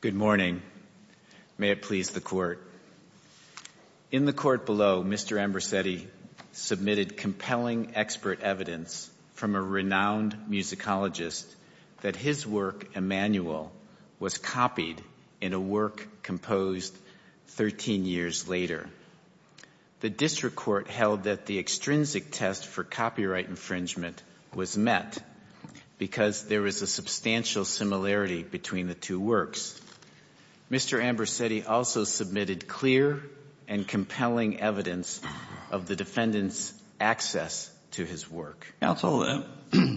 Good morning. May it please the Court. In the Court below, Mr. Ambrosetti submitted compelling expert evidence from a renowned musicologist that his work, Emanuel, was copied in a work composed 13 years later. The District Court held that the extrinsic test for copyright works. Mr. Ambrosetti also submitted clear and compelling evidence of the defendant's access to his work. Counsel,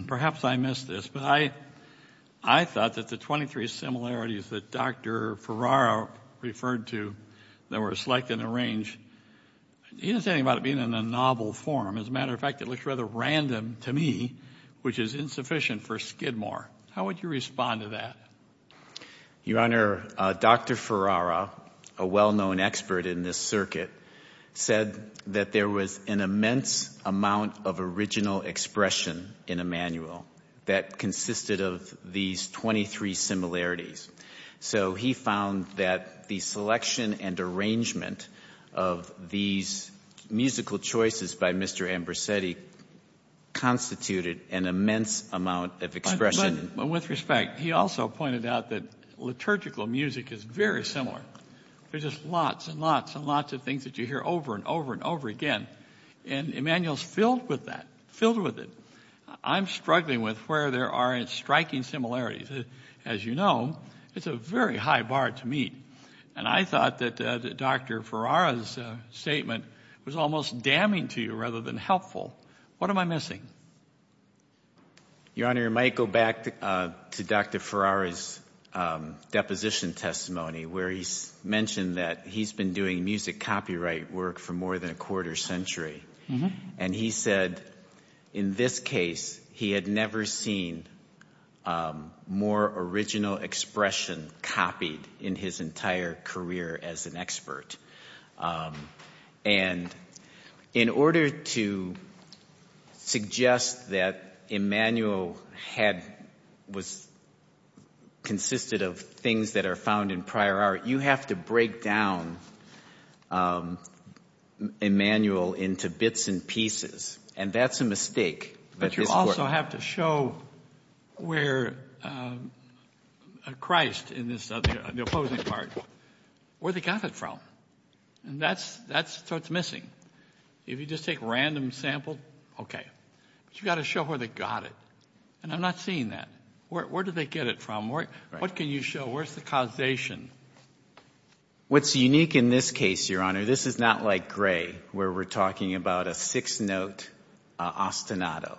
perhaps I missed this, but I thought that the 23 similarities that Dr. Ferraro referred to that were selected and arranged, he didn't say anything about it being in a novel form. As a matter of fact, it looks rather random to me, which is insufficient for Skidmore. How would you respond to that? Your Honor, Dr. Ferraro, a well-known expert in this circuit, said that there was an immense amount of original expression in Emanuel that consisted of these 23 similarities. So he found that the selection and arrangement of these musical choices by Mr. Ambrosetti constituted an immense amount of expression. With respect, he also pointed out that liturgical music is very similar. There's just lots and lots and lots of things that you hear over and over and over again, and Emanuel's filled with that, filled with it. I'm struggling with where there are striking similarities. As you know, it's a very high bar to meet, and I thought that Dr. Ferraro's statement was almost damning to you rather than helpful. What am I missing? Your Honor, I might go back to Dr. Ferraro's deposition testimony, where he mentioned that he's been doing music copyright work for more than a quarter century. He said, in this case, he had never seen more original expression copied in his entire career as an expert. And in order to suggest that Emanuel had, was, consisted of things that are found in prior art, you have to break down Emanuel into bits and pieces, and that's a mistake. But you also have to show where Christ, in the opposing part, where they got it from. That's what's missing. If you just take a random sample, okay. But you've got to show where they got it, and I'm not seeing that. Where did they get it from? What can you show? Where's the causation? What's unique in this case, Your Honor, this is not like Gray, where we're talking about a six-note ostinato.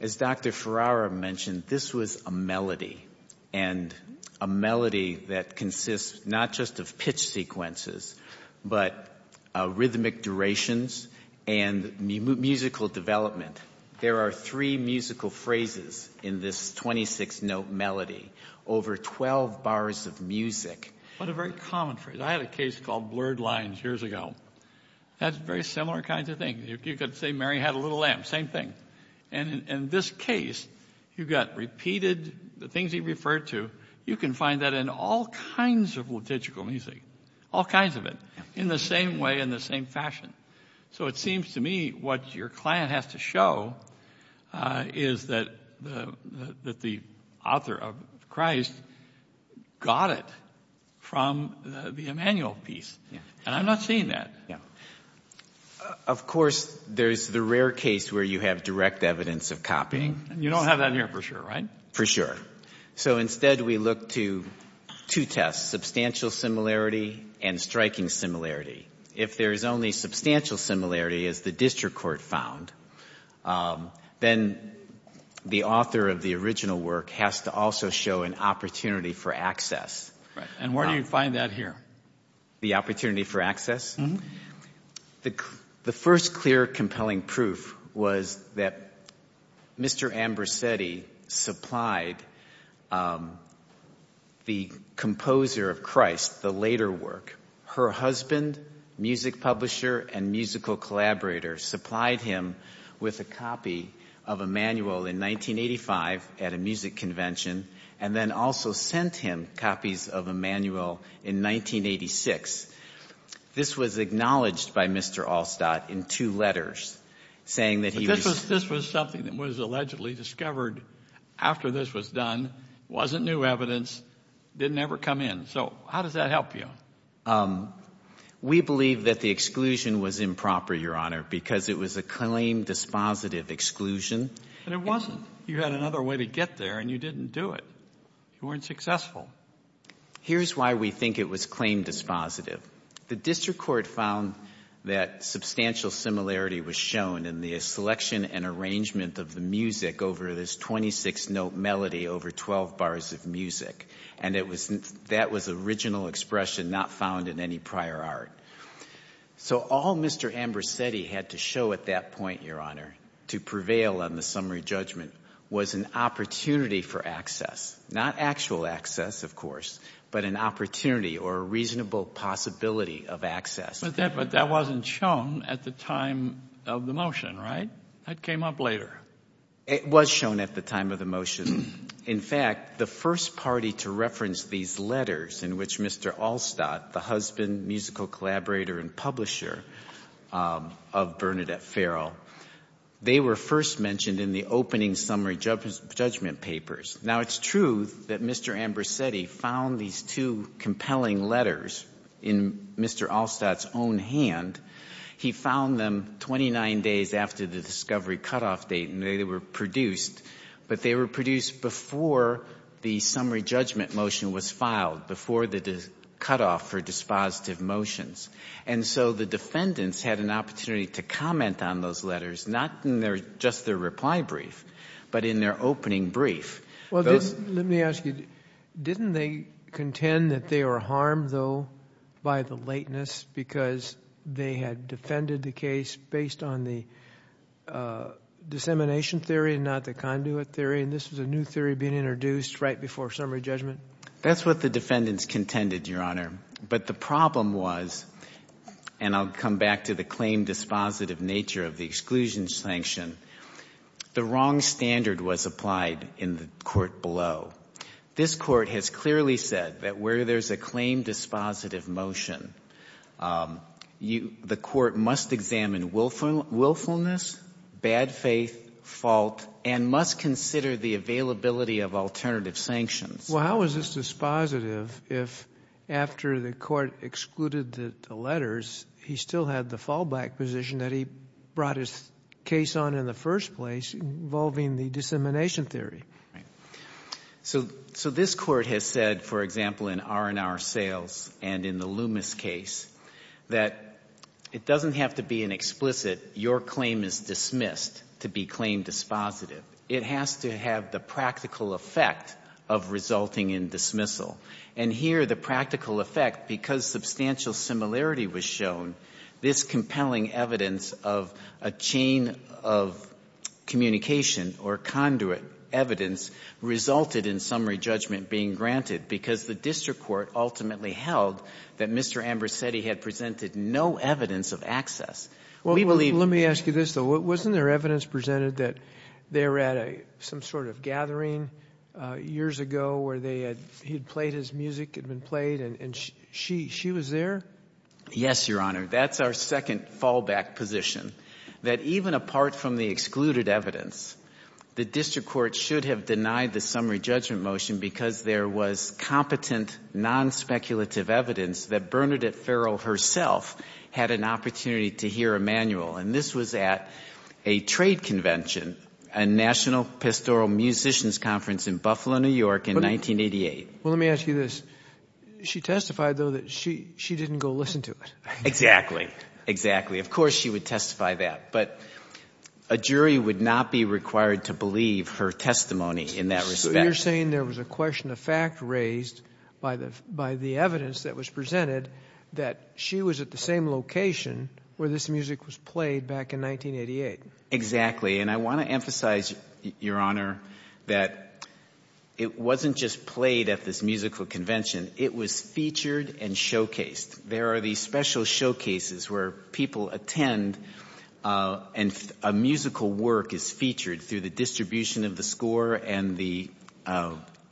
As Dr. Ferraro mentioned, this was a melody, and a melody that consists not just of pitch sequences, but rhythmic durations and musical development. There are three musical phrases in this 26-note melody, over 12 bars of music. What a very common phrase. I had a case called blurred lines years ago. That's very similar kinds of things. You could say Mary had a little lamb, same thing. And in this case, you've got repeated, the things he referred to, you can find that in all kinds of liturgical music. All kinds of it, in the same way, in the same fashion. So it seems to me what your client has to show is that the author of Christ got it from the Emanuel piece. And I'm not seeing that. Of course, there's the rare case where you have direct evidence of copying. You don't have that here for sure, right? For sure. So instead, we look to two tests, substantial similarity and striking similarity. If there is only substantial similarity, as the district court found, then the author of the original work has to also show an opportunity for access. And where do you find that here? The opportunity for access? The first clear, compelling proof was that Mr. Ambrosetti supplied the composer of Christ, the later work, her husband, music publisher and musical collaborator, supplied him with a copy of Emanuel in 1985 at a music convention and then also sent him copies of Emanuel in 1986. This was acknowledged by Mr. Allstadt in two letters, saying that he was... But this was something that was allegedly discovered after this was done, wasn't new evidence, didn't ever come in. So how does that help you? We believe that the exclusion was improper, Your Honor, because it was a claim dispositive exclusion. But it wasn't. You had another way to get there and you didn't do it. You weren't successful. Here's why we think it was claim dispositive. The district court found that substantial similarity was shown in the selection and arrangement of the music over this 26-note melody over 12 bars of music. And that was original expression not found in any prior art. So all Mr. Ambrosetti had to show at that point, Your Honor, to prevail on the summary judgment was an opportunity for access, not actual access, of course, but an opportunity or a reasonable possibility of access. But that wasn't shown at the time of the motion, right? That came up later. It was shown at the time of the motion. In fact, the first party to reference these letters in which Mr. Allstadt, the husband, musical collaborator, and publisher of Bernadette Farrell, they were first mentioned in the opening summary judgment papers. Now, it's true that Mr. Ambrosetti found these two compelling letters in Mr. Allstadt's own hand. He found them 29 days after the discovery cutoff date and they were produced. But they were produced before the summary judgment motion was filed, before the cutoff for dispositive motions. And so the defendants had an opportunity to comment on those letters, not in just their reply brief, but in their opening brief. Well, let me ask you, didn't they contend that they were harmed, though, by the lateness because they had defended the case based on the dissemination theory and not the conduit theory? And this was a new theory being introduced right before summary judgment? That's what the defendants contended, Your Honor. But the problem was, and I'll come back to the claim dispositive nature of the exclusion sanction, the wrong standard was applied in the court below. This court has clearly said that where there's a claim dispositive motion, the court must examine willfulness, bad faith, fault, and must consider the availability of alternative sanctions. Well, how is this dispositive if after the court excluded the letters, he still had the fallback position that he brought his case on in the first place involving the dissemination theory? So this court has said, for example, in R&R Sales and in the Loomis case, that it doesn't have to be an explicit, your claim is dismissed to be claim dispositive. It has to have the practical effect of resulting in dismissal. And here, the practical effect, because substantial similarity was shown, this compelling evidence of a chain of communication or conduit evidence resulted in summary judgment being granted because the district court ultimately held that Mr. Ambrosetti had presented no evidence of access. Well, let me ask you this, though. Wasn't there evidence presented that they were at some sort of gathering years ago where he had played his music, had been played, and she was there? Yes, Your Honor. That's our second fallback position, that even apart from the excluded evidence, the district court should have denied the summary judgment motion because there was competent, non-speculative evidence that Bernadette Farrell herself had an opportunity to hear a manual. And this was at a trade convention, a National Pastoral Musicians Conference in Buffalo, New York, in 1988. Well, let me ask you this. She testified, though, that she didn't go listen to it. Exactly. Exactly. Of course she would testify that. But a jury would not be required to believe her testimony in that respect. So you're saying there was a question of fact raised by the evidence that was presented that she was at the same location where this music was played back in 1988. Exactly. And I want to emphasize, Your Honor, that it wasn't just played at this musical convention. It was featured and showcased. There are these special showcases where people attend and a musical work is featured through the distribution of the score and the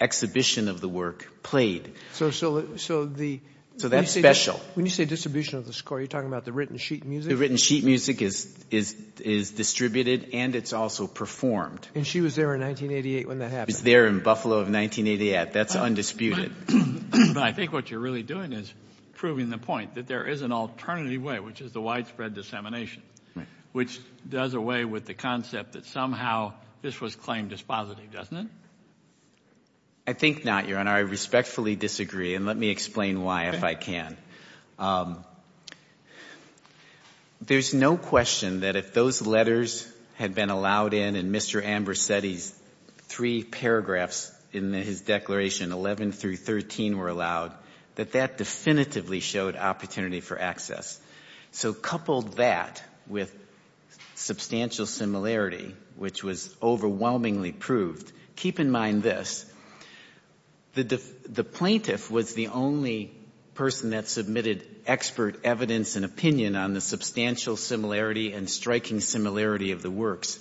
exhibition of the work played. So that's special. When you say distribution of the score, you're talking about the written sheet music? The written sheet music is distributed and it's also performed. And she was there in 1988 when that happened? She was there in Buffalo of 1988. That's undisputed. But I think what you're really doing is proving the point that there is an alternative way, which is the widespread dissemination, which does away with the concept that somehow this was claimed as positive, doesn't it? I think not, Your Honor. I respectfully disagree. And let me explain why, if I can. There's no question that if those letters had been allowed in and Mr. Ambrosetti's three paragraphs in his declaration, 11 through 13, were allowed, that that definitively showed opportunity for access. So coupled that with substantial similarity, which was overwhelmingly proved, keep in mind this. The plaintiff was the only person that submitted expert evidence and opinion on the substantial similarity and striking similarity of the works.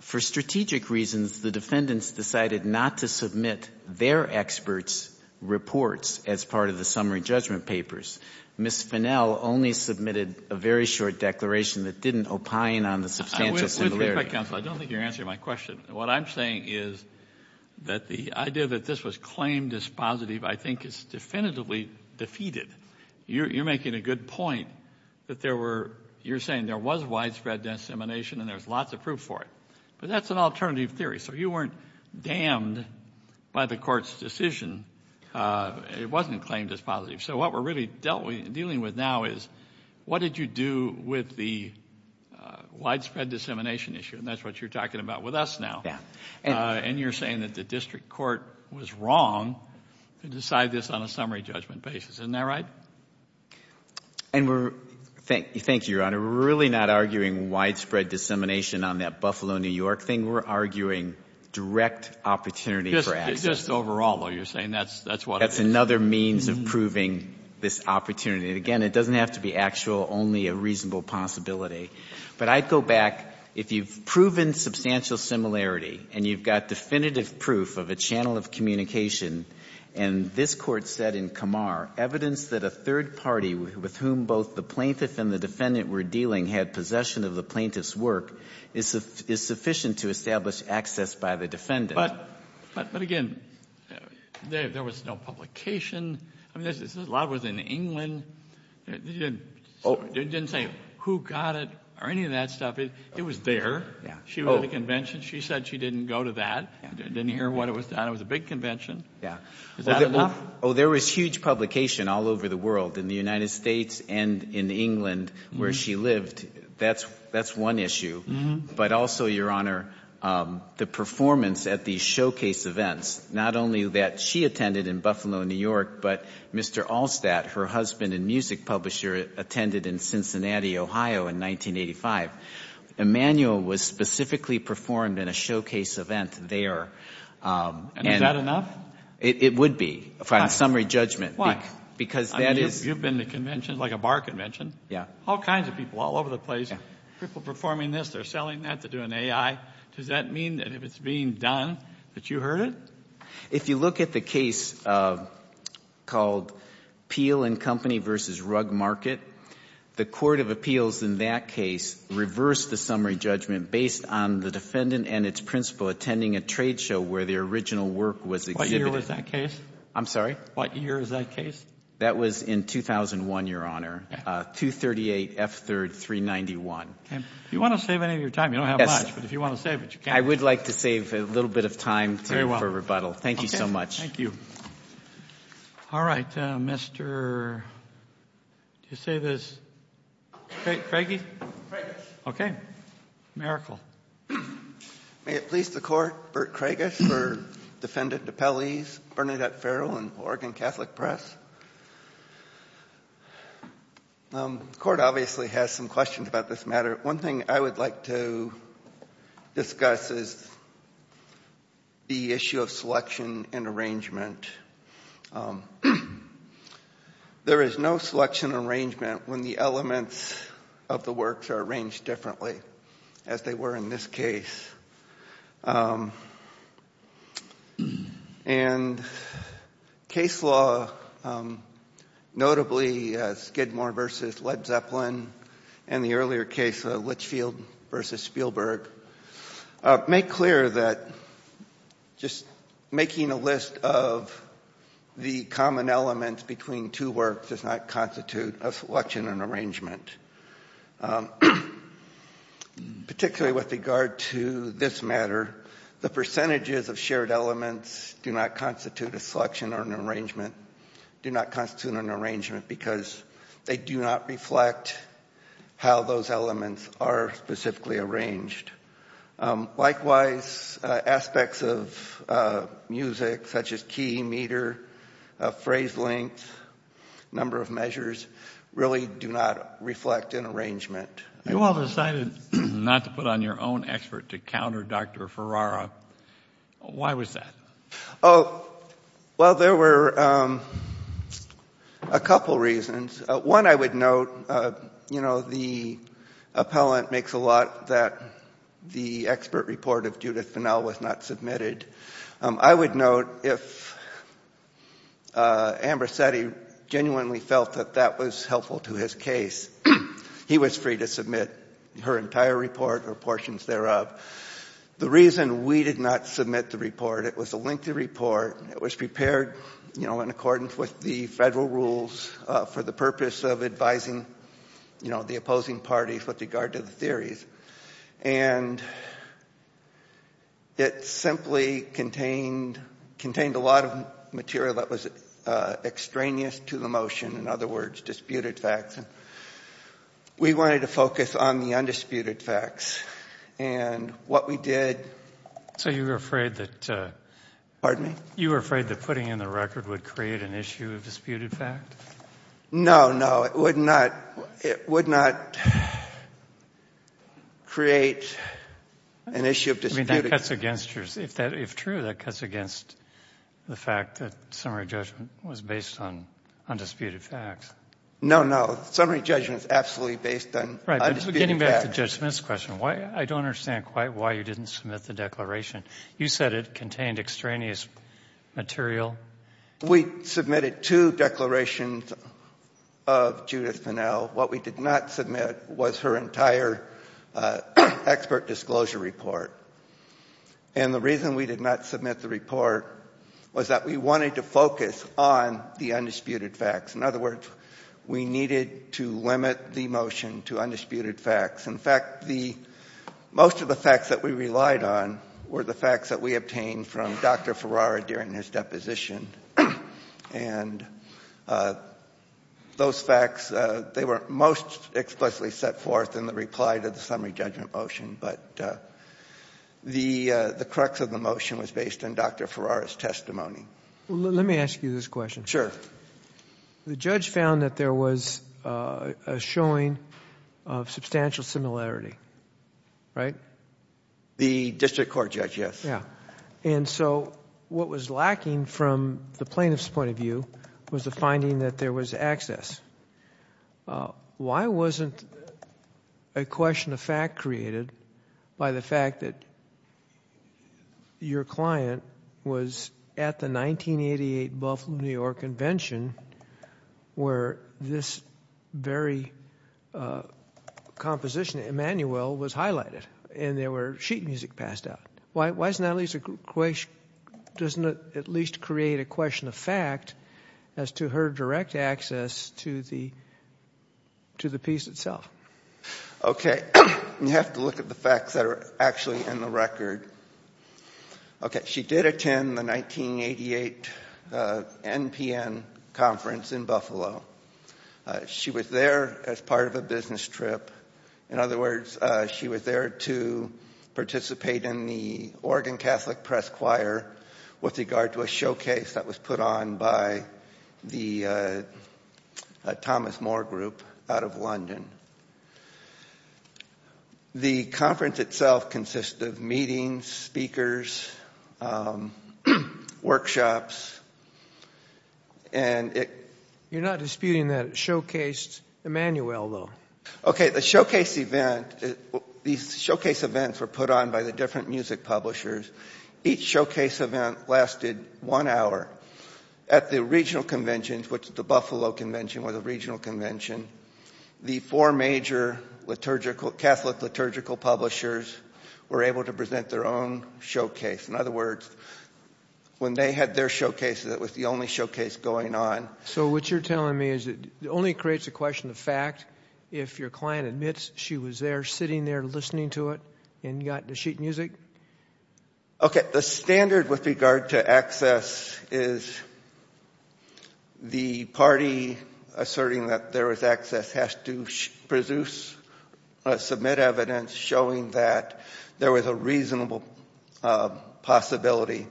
For strategic reasons, the defendants decided not to submit their experts' reports as part of the summary judgment papers. Ms. Finnell only submitted a very short declaration that didn't opine on the substantial similarity. With respect, counsel, I don't think you're answering my question. What I'm saying is that the idea that this was claimed as positive, I think is definitively defeated. You're making a good point that there were, you're saying there was widespread dissemination and there's lots of proof for it. But that's an alternative theory. So you weren't damned by the court's decision. It wasn't claimed as positive. So what we're really dealing with now is what did you do with the widespread dissemination issue? And that's what you're talking about with us now. And you're saying that the district court was wrong to decide this on a summary judgment basis. Isn't that right? And we're, thank you, Your Honor. We're really not arguing widespread dissemination on that Buffalo, New York thing. We're arguing direct opportunity for access. Just overall, though, you're saying that's what it is. That's another means of proving this opportunity. And again, it doesn't have to be actual, only a reasonable possibility. But I'd go back. If you've proven substantial similarity and you've got definitive proof of a channel of communication, and this Court said in Kamar, evidence that a third party with whom both the plaintiff and the defendant were dealing had possession of the plaintiff's work is sufficient to establish access by the defendant. But again, there was no publication. A lot of it was in England. It didn't say who got it or any of that stuff. It was there. She was at a convention. She said she didn't go to that. Didn't hear what it was. It was a big convention. Is that enough? There was huge publication all over the world, in the United States and in England, where she lived. That's one issue. But also, Your Honor, the performance at these showcase events, not only that she attended in Buffalo, New York, but Mr. Allstadt, her husband and music publisher, attended in Cincinnati, Ohio in 1985. Emanuel was specifically performed in a showcase event there. And is that enough? It would be, on summary judgment. Why? You've been to a bar convention. All kinds of people all over the place. People performing this. They're selling that. They're doing AI. Does that mean that if it's being done that you heard it? If you look at the case called Peel and Company v. Rug Market, the court of appeals in that case reversed the summary judgment based on the defendant and its principal attending a trade show where their original work was exhibited. What year was that case? That was in 2001, Your Honor. 238 F. 3rd, 391. If you want to save any of your time, you don't have much, but if you want to save it, you can. I would like to save a little bit of time for rebuttal. Thank you so much. Thank you. All right. Mr. Did you say this? Craigie? Miracle. May it please the court, Bert Craigus for defendant Appellees Bernadette Farrell and Oregon Catholic Press. The court obviously has some questions about this matter. One thing I would like to discuss is the issue of selection and arrangement. There is no selection and arrangement when the elements of the works are arranged differently as they were in this case. And case law notably Skidmore versus Led Zeppelin and the earlier case Litchfield versus Spielberg make clear that just making a list of the common elements between two works does not constitute a selection and arrangement. Particularly with regard to this matter, the percentages of shared elements do not constitute a selection or an arrangement do not constitute an arrangement because they do not reflect how those elements are specifically arranged. Likewise, aspects of music such as key, meter, phrase length, number of measures really do not reflect an arrangement. You all decided not to put on your own expert to counter Dr. Ferrara. Why was that? Oh, well there were a couple reasons. One I would note you know the appellant makes a lot that the expert report of Judith Finnell was not submitted. I would note if Ambrosetti genuinely felt that that was helpful to his case he was free to submit her entire report or portions thereof. The reason we did not submit the report, it was a lengthy report it was prepared in accordance with the federal rules for the purpose of advising the opposing parties with regard to the theories. It simply contained a lot of material that was extraneous to the motion. In other words, disputed facts. We wanted to focus on the undisputed facts. What we did... So you were afraid that putting in the record would create an issue of disputed fact? No, no. It would not create an issue of disputed facts. If true, that cuts against the fact that summary judgment was based on undisputed facts. No, no. Summary judgment is absolutely based on undisputed facts. Getting back to Judge Smith's question, I don't understand quite why you didn't submit the declaration. You said it contained extraneous material. We submitted two declarations of Judith Finnell. What we did not submit was her entire expert disclosure report. The reason we did not submit the report was that we wanted to focus on the undisputed facts. In other words, we needed to limit the motion to undisputed facts. In fact, most of the facts that we relied on were the facts that we obtained from Dr. Farrar during his deposition. Those facts, they were most explicitly set forth in the reply to the summary judgment motion. The crux of the motion was based on Dr. Farrar's testimony. Let me ask you this question. Sure. The judge found that there was a showing of substantial similarity. Right? The district court judge, yes. What was lacking from the plaintiff's point of view was the finding that there was access. Why wasn't a question of fact created by the fact that your client was at the 1988 Buffalo, New York convention where this very composition of Immanuel was highlighted and there were sheet music passed out? Why doesn't that at least create a question of fact as to her direct access to the piece itself? Okay. You have to look at the facts that are actually in the record. She did attend the 1988 NPN conference in Buffalo. She was there as part of a business trip. In other words, she was there to participate in the Oregon Catholic Press Choir with regard to a showcase that was put on by the Thomas Moore group out of London. The conference itself consists of meetings, speakers, workshops, and it... You're not disputing that it showcased Immanuel, though. Okay. The showcase event, these showcase events were put on by the different music publishers. Each showcase event lasted one hour. At the regional conventions, which the Buffalo convention was a regional convention, the four major liturgical, Catholic liturgical publishers were able to present their own showcase. In other words, when they had their showcases, it was the only showcase going on. So what you're telling me is that it only creates a question of fact if your client admits she was there, sitting there, listening to it, and got the sheet music? Okay. The standard with regard to access is the party asserting that there was access has to produce or submit evidence showing that there was a reasonable possibility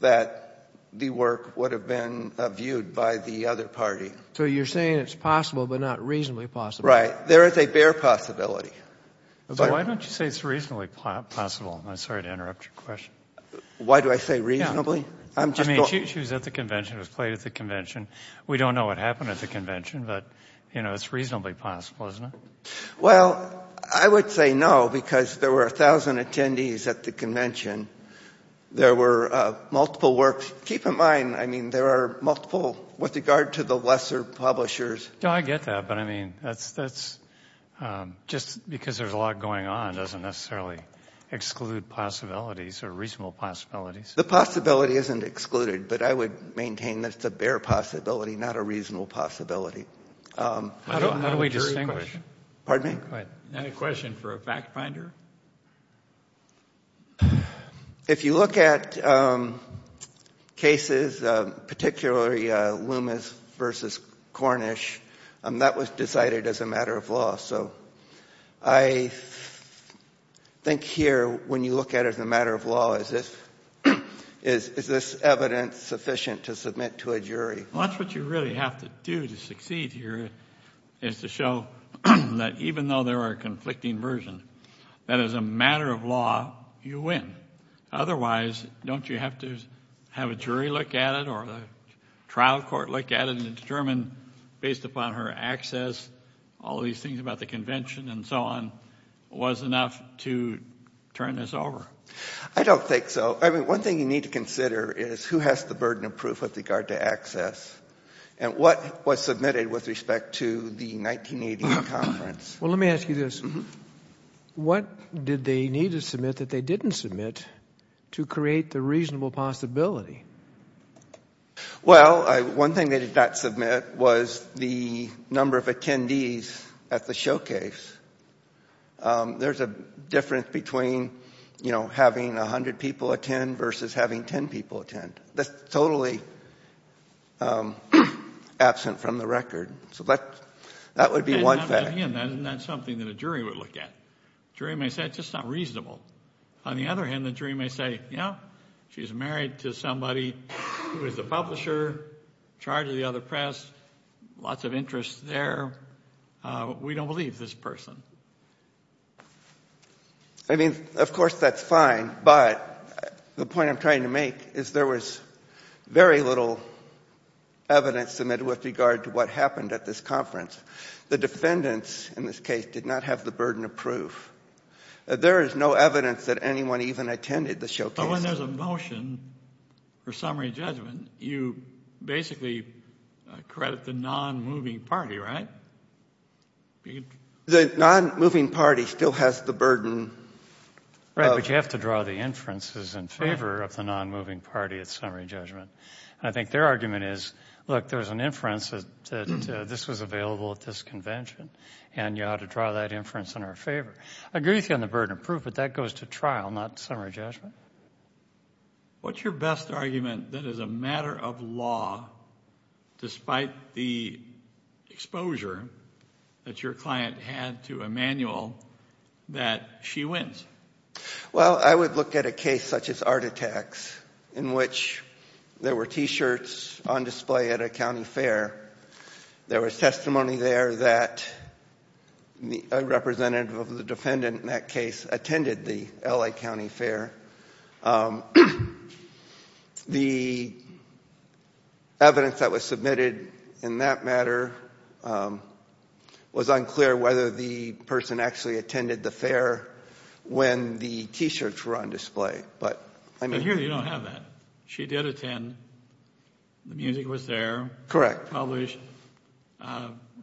that the work would have been viewed by the other party. So you're saying it's possible, but not reasonably possible. Right. There is a bare possibility. Why don't you say it's reasonably possible? I'm sorry to interrupt your question. Why do I say reasonably? She was at the convention, was played at the convention. We don't know what happened at the convention, but it's reasonably possible, isn't it? Well, I would say no, because there were 1,000 attendees at the convention. There were multiple works. Keep in mind, I mean, there are multiple with regard to the lesser publishers. I get that, but I mean, that's just because there's a lot going on doesn't necessarily exclude possibilities or reasonable possibilities. The possibility isn't excluded, but I would maintain that it's a bare possibility, not a reasonable possibility. How do we distinguish? Pardon me? Go ahead. Any question for a fact finder? If you look at cases, particularly Loomis versus Cornish, that was decided as a matter of law. I think here, when you look at it as a matter of law, is this evidence sufficient to submit to a jury? That's what you really have to do to succeed here, is to show that even though there are conflicting versions, that as a matter of law, you win. Otherwise, don't you have to have a jury look at it or a trial court look at it and determine, based upon her access, all these things about the convention and so on, was enough to turn this over? I don't think so. I mean, one thing you need to consider is who has the burden of proof with regard to access and what was submitted with respect to the 1980 conference. Well, let me ask you this. What did they need to submit that they didn't submit to create the reasonable possibility? Well, one thing they did not submit was the number of attendees at the showcase. There's a difference between having 100 people attend versus having 10 people attend. That's totally absent from the record. So that would be one fact. Again, that's not something that a jury would look at. The jury may say, it's just not reasonable. On the other hand, the jury may say, yeah, she's married to somebody who is a publisher, in charge of the other press, lots of interest there. We don't believe this person. I mean, of course that's fine, but the point I'm trying to make is there was very little evidence submitted with regard to what happened at this conference. The defendants, in this case, did not have the burden of proof. There is no evidence that anyone even attended the showcase. But when there's a motion for summary judgment, you basically credit the non-moving party, right? The non-moving party still has the burden. Right, but you have to draw the inferences in favor of the non-moving party at summary judgment. I think their argument is, look, there's an inference that this was available at this convention, and you ought to draw that inference in our favor. I agree with you on the burden of proof, but that goes to trial, not summary judgment. What's your best argument that as a matter of law, despite the that your client had to Emmanuel, that she wins? Well, I would look at a case such as Art Attacks, in which there were T-shirts on display at a county fair. There was testimony there that a representative of the defendant in that case attended the L.A. county fair. The evidence that was submitted in that matter was unclear whether the person actually attended the fair when the T-shirts were on display. But here you don't have that. She did attend. The music was there. Published.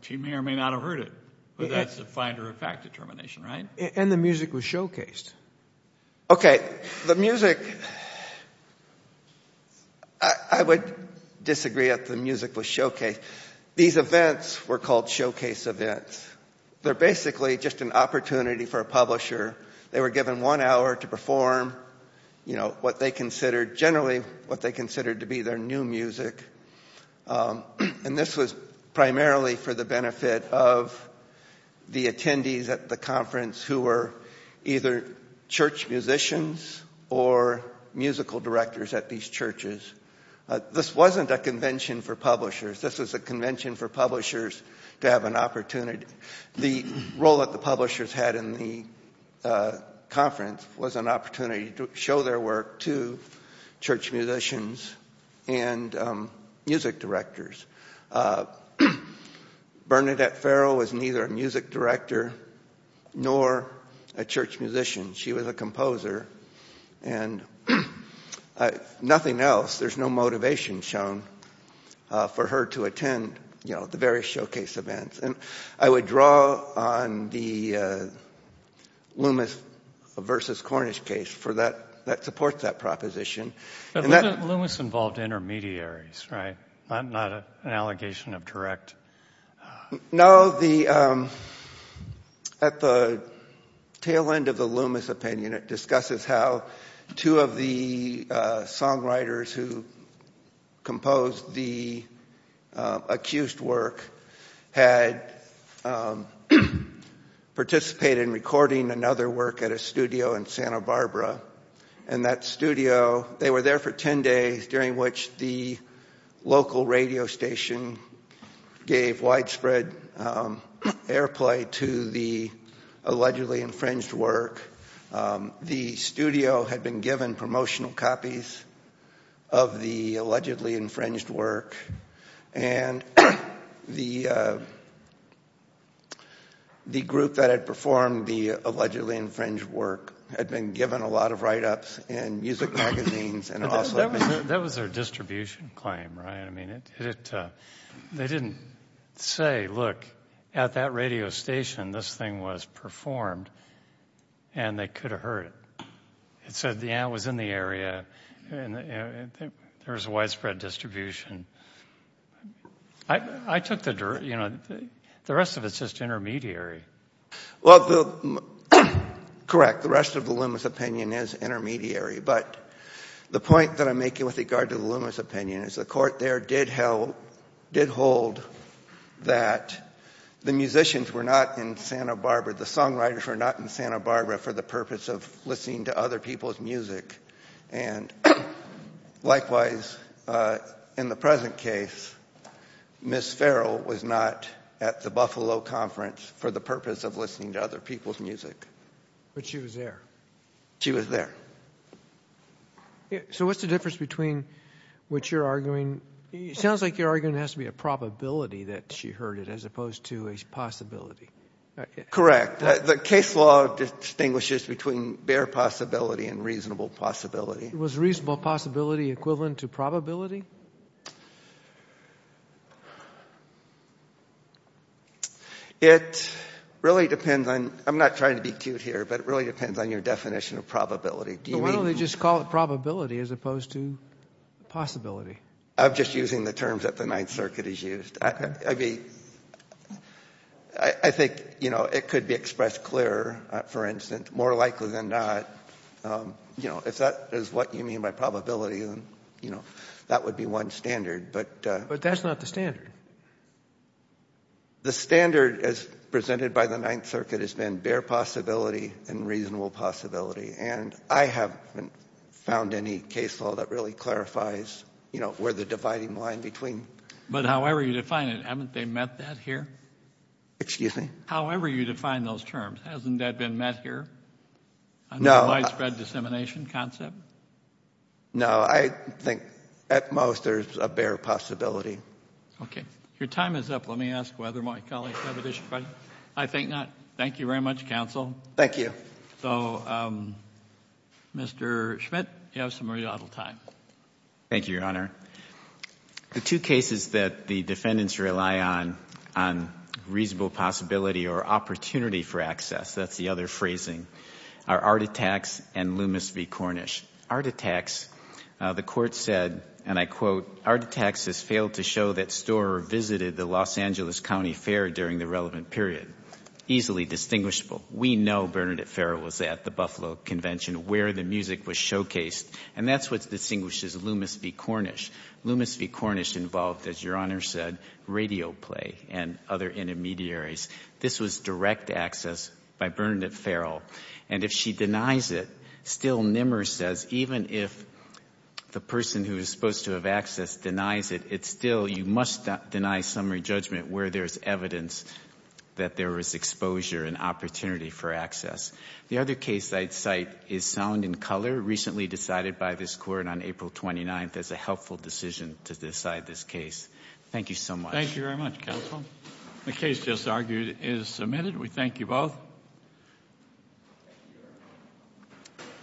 She may or may not have heard it. But that's a finder of fact determination, right? And the music was showcased. Okay, the music I would disagree if the music was showcased. These events were called showcase events. They're basically just an opportunity for a publisher. They were given one hour to perform what they considered generally what they considered to be their new music. And this was primarily for the benefit of the attendees at the conference who were either church musicians or musical directors at these churches. This wasn't a convention for publishers. This was a convention for publishers to have an opportunity. The role that the publishers had in the conference was an opportunity to show their work to church musicians and music directors. Bernadette Farrell was neither a music director nor a church musician. She was a composer. nothing else. There's no motivation shown for her to attend the various showcase events. I would draw on the Loomis versus Cornish case that supports that proposition. Loomis involved intermediaries, right? Not an allegation of direct... No. At the tail end of the Loomis opinion, it discusses how two of the songwriters who composed the accused work had participated in recording another work at a studio in Santa Barbara. They were there for ten days during which the local radio station gave widespread airplay to the allegedly infringed work. The studio had been given promotional copies of the allegedly infringed work. The group that had performed the allegedly infringed work had been given a lot of write-ups in music magazines. That was their distribution claim, right? They didn't say, look, at that radio station, this thing was performed and they could have heard it. It said the ant was in the area and there was a widespread distribution. I took the... The rest of it is just intermediary. Well, correct. The rest of the Loomis opinion is intermediary, but the point that I'm making with regard to the Loomis opinion is the court there did hold that the musicians were not in Santa Barbara, the songwriters were not in Santa Barbara for the purpose of listening to other people's music. Likewise, in the present case, Miss Farrell was not at the Buffalo Conference for the purpose of listening to other people's music. But she was there. She was there. So what's the difference between what you're arguing? It sounds like you're arguing it has to be a probability that she heard it as opposed to a possibility. Correct. The case law distinguishes between bare possibility and reasonable possibility. Was reasonable possibility equivalent to probability? It really depends on... I'm not trying to be cute here, but it really depends on your definition of probability. Why don't they just call it probability as opposed to possibility? I'm just using the terms that the Ninth Circuit has used. I think it could be expressed clearer, for instance, more likely than not. If that is what you mean by probability, that would be one standard. But that's not the standard. The standard presented by the Ninth Circuit has been bare possibility and reasonable possibility. And I haven't found any case law that really clarifies where the dividing line between... But however you define it, haven't they met that here? Excuse me? However you define those terms, hasn't that been met here? No. A widespread dissemination concept? No. I think at most there's a bare possibility. Okay. Your time is up. Let me ask whether my colleagues have additional questions. I think not. Thank you very much, Counsel. Thank you. So, Mr. Schmidt, you have some rebuttal time. Thank you, Your Honor. The two cases that the defendants rely on, reasonable possibility or opportunity for access, that's the other phrasing, are Arditax and Loomis v. Cornish. Arditax, the court said, and I quote, Arditax has failed to show that Storer visited the Los Angeles County Fair during the relevant period. Easily distinguishable. We know Bernadette Ferrer was at the Buffalo Convention where the music was showcased. And that's what distinguishes Loomis v. Cornish. Loomis v. Cornish involved, as Your Honor said, radio play and other intermediaries. This was direct access by Bernadette Ferrer. And if she denies it, still Nimmer says, even if the person who is supposed to have access denies it, it's still, you must deny summary judgment where there's evidence that there was exposure and opportunity for access. The other case I'd cite is Sound and Color, recently decided by this Court on April 29th as a helpful decision to decide this case. Thank you so much. Thank you very much, Counsel. The case just argued is submitted. We thank you both.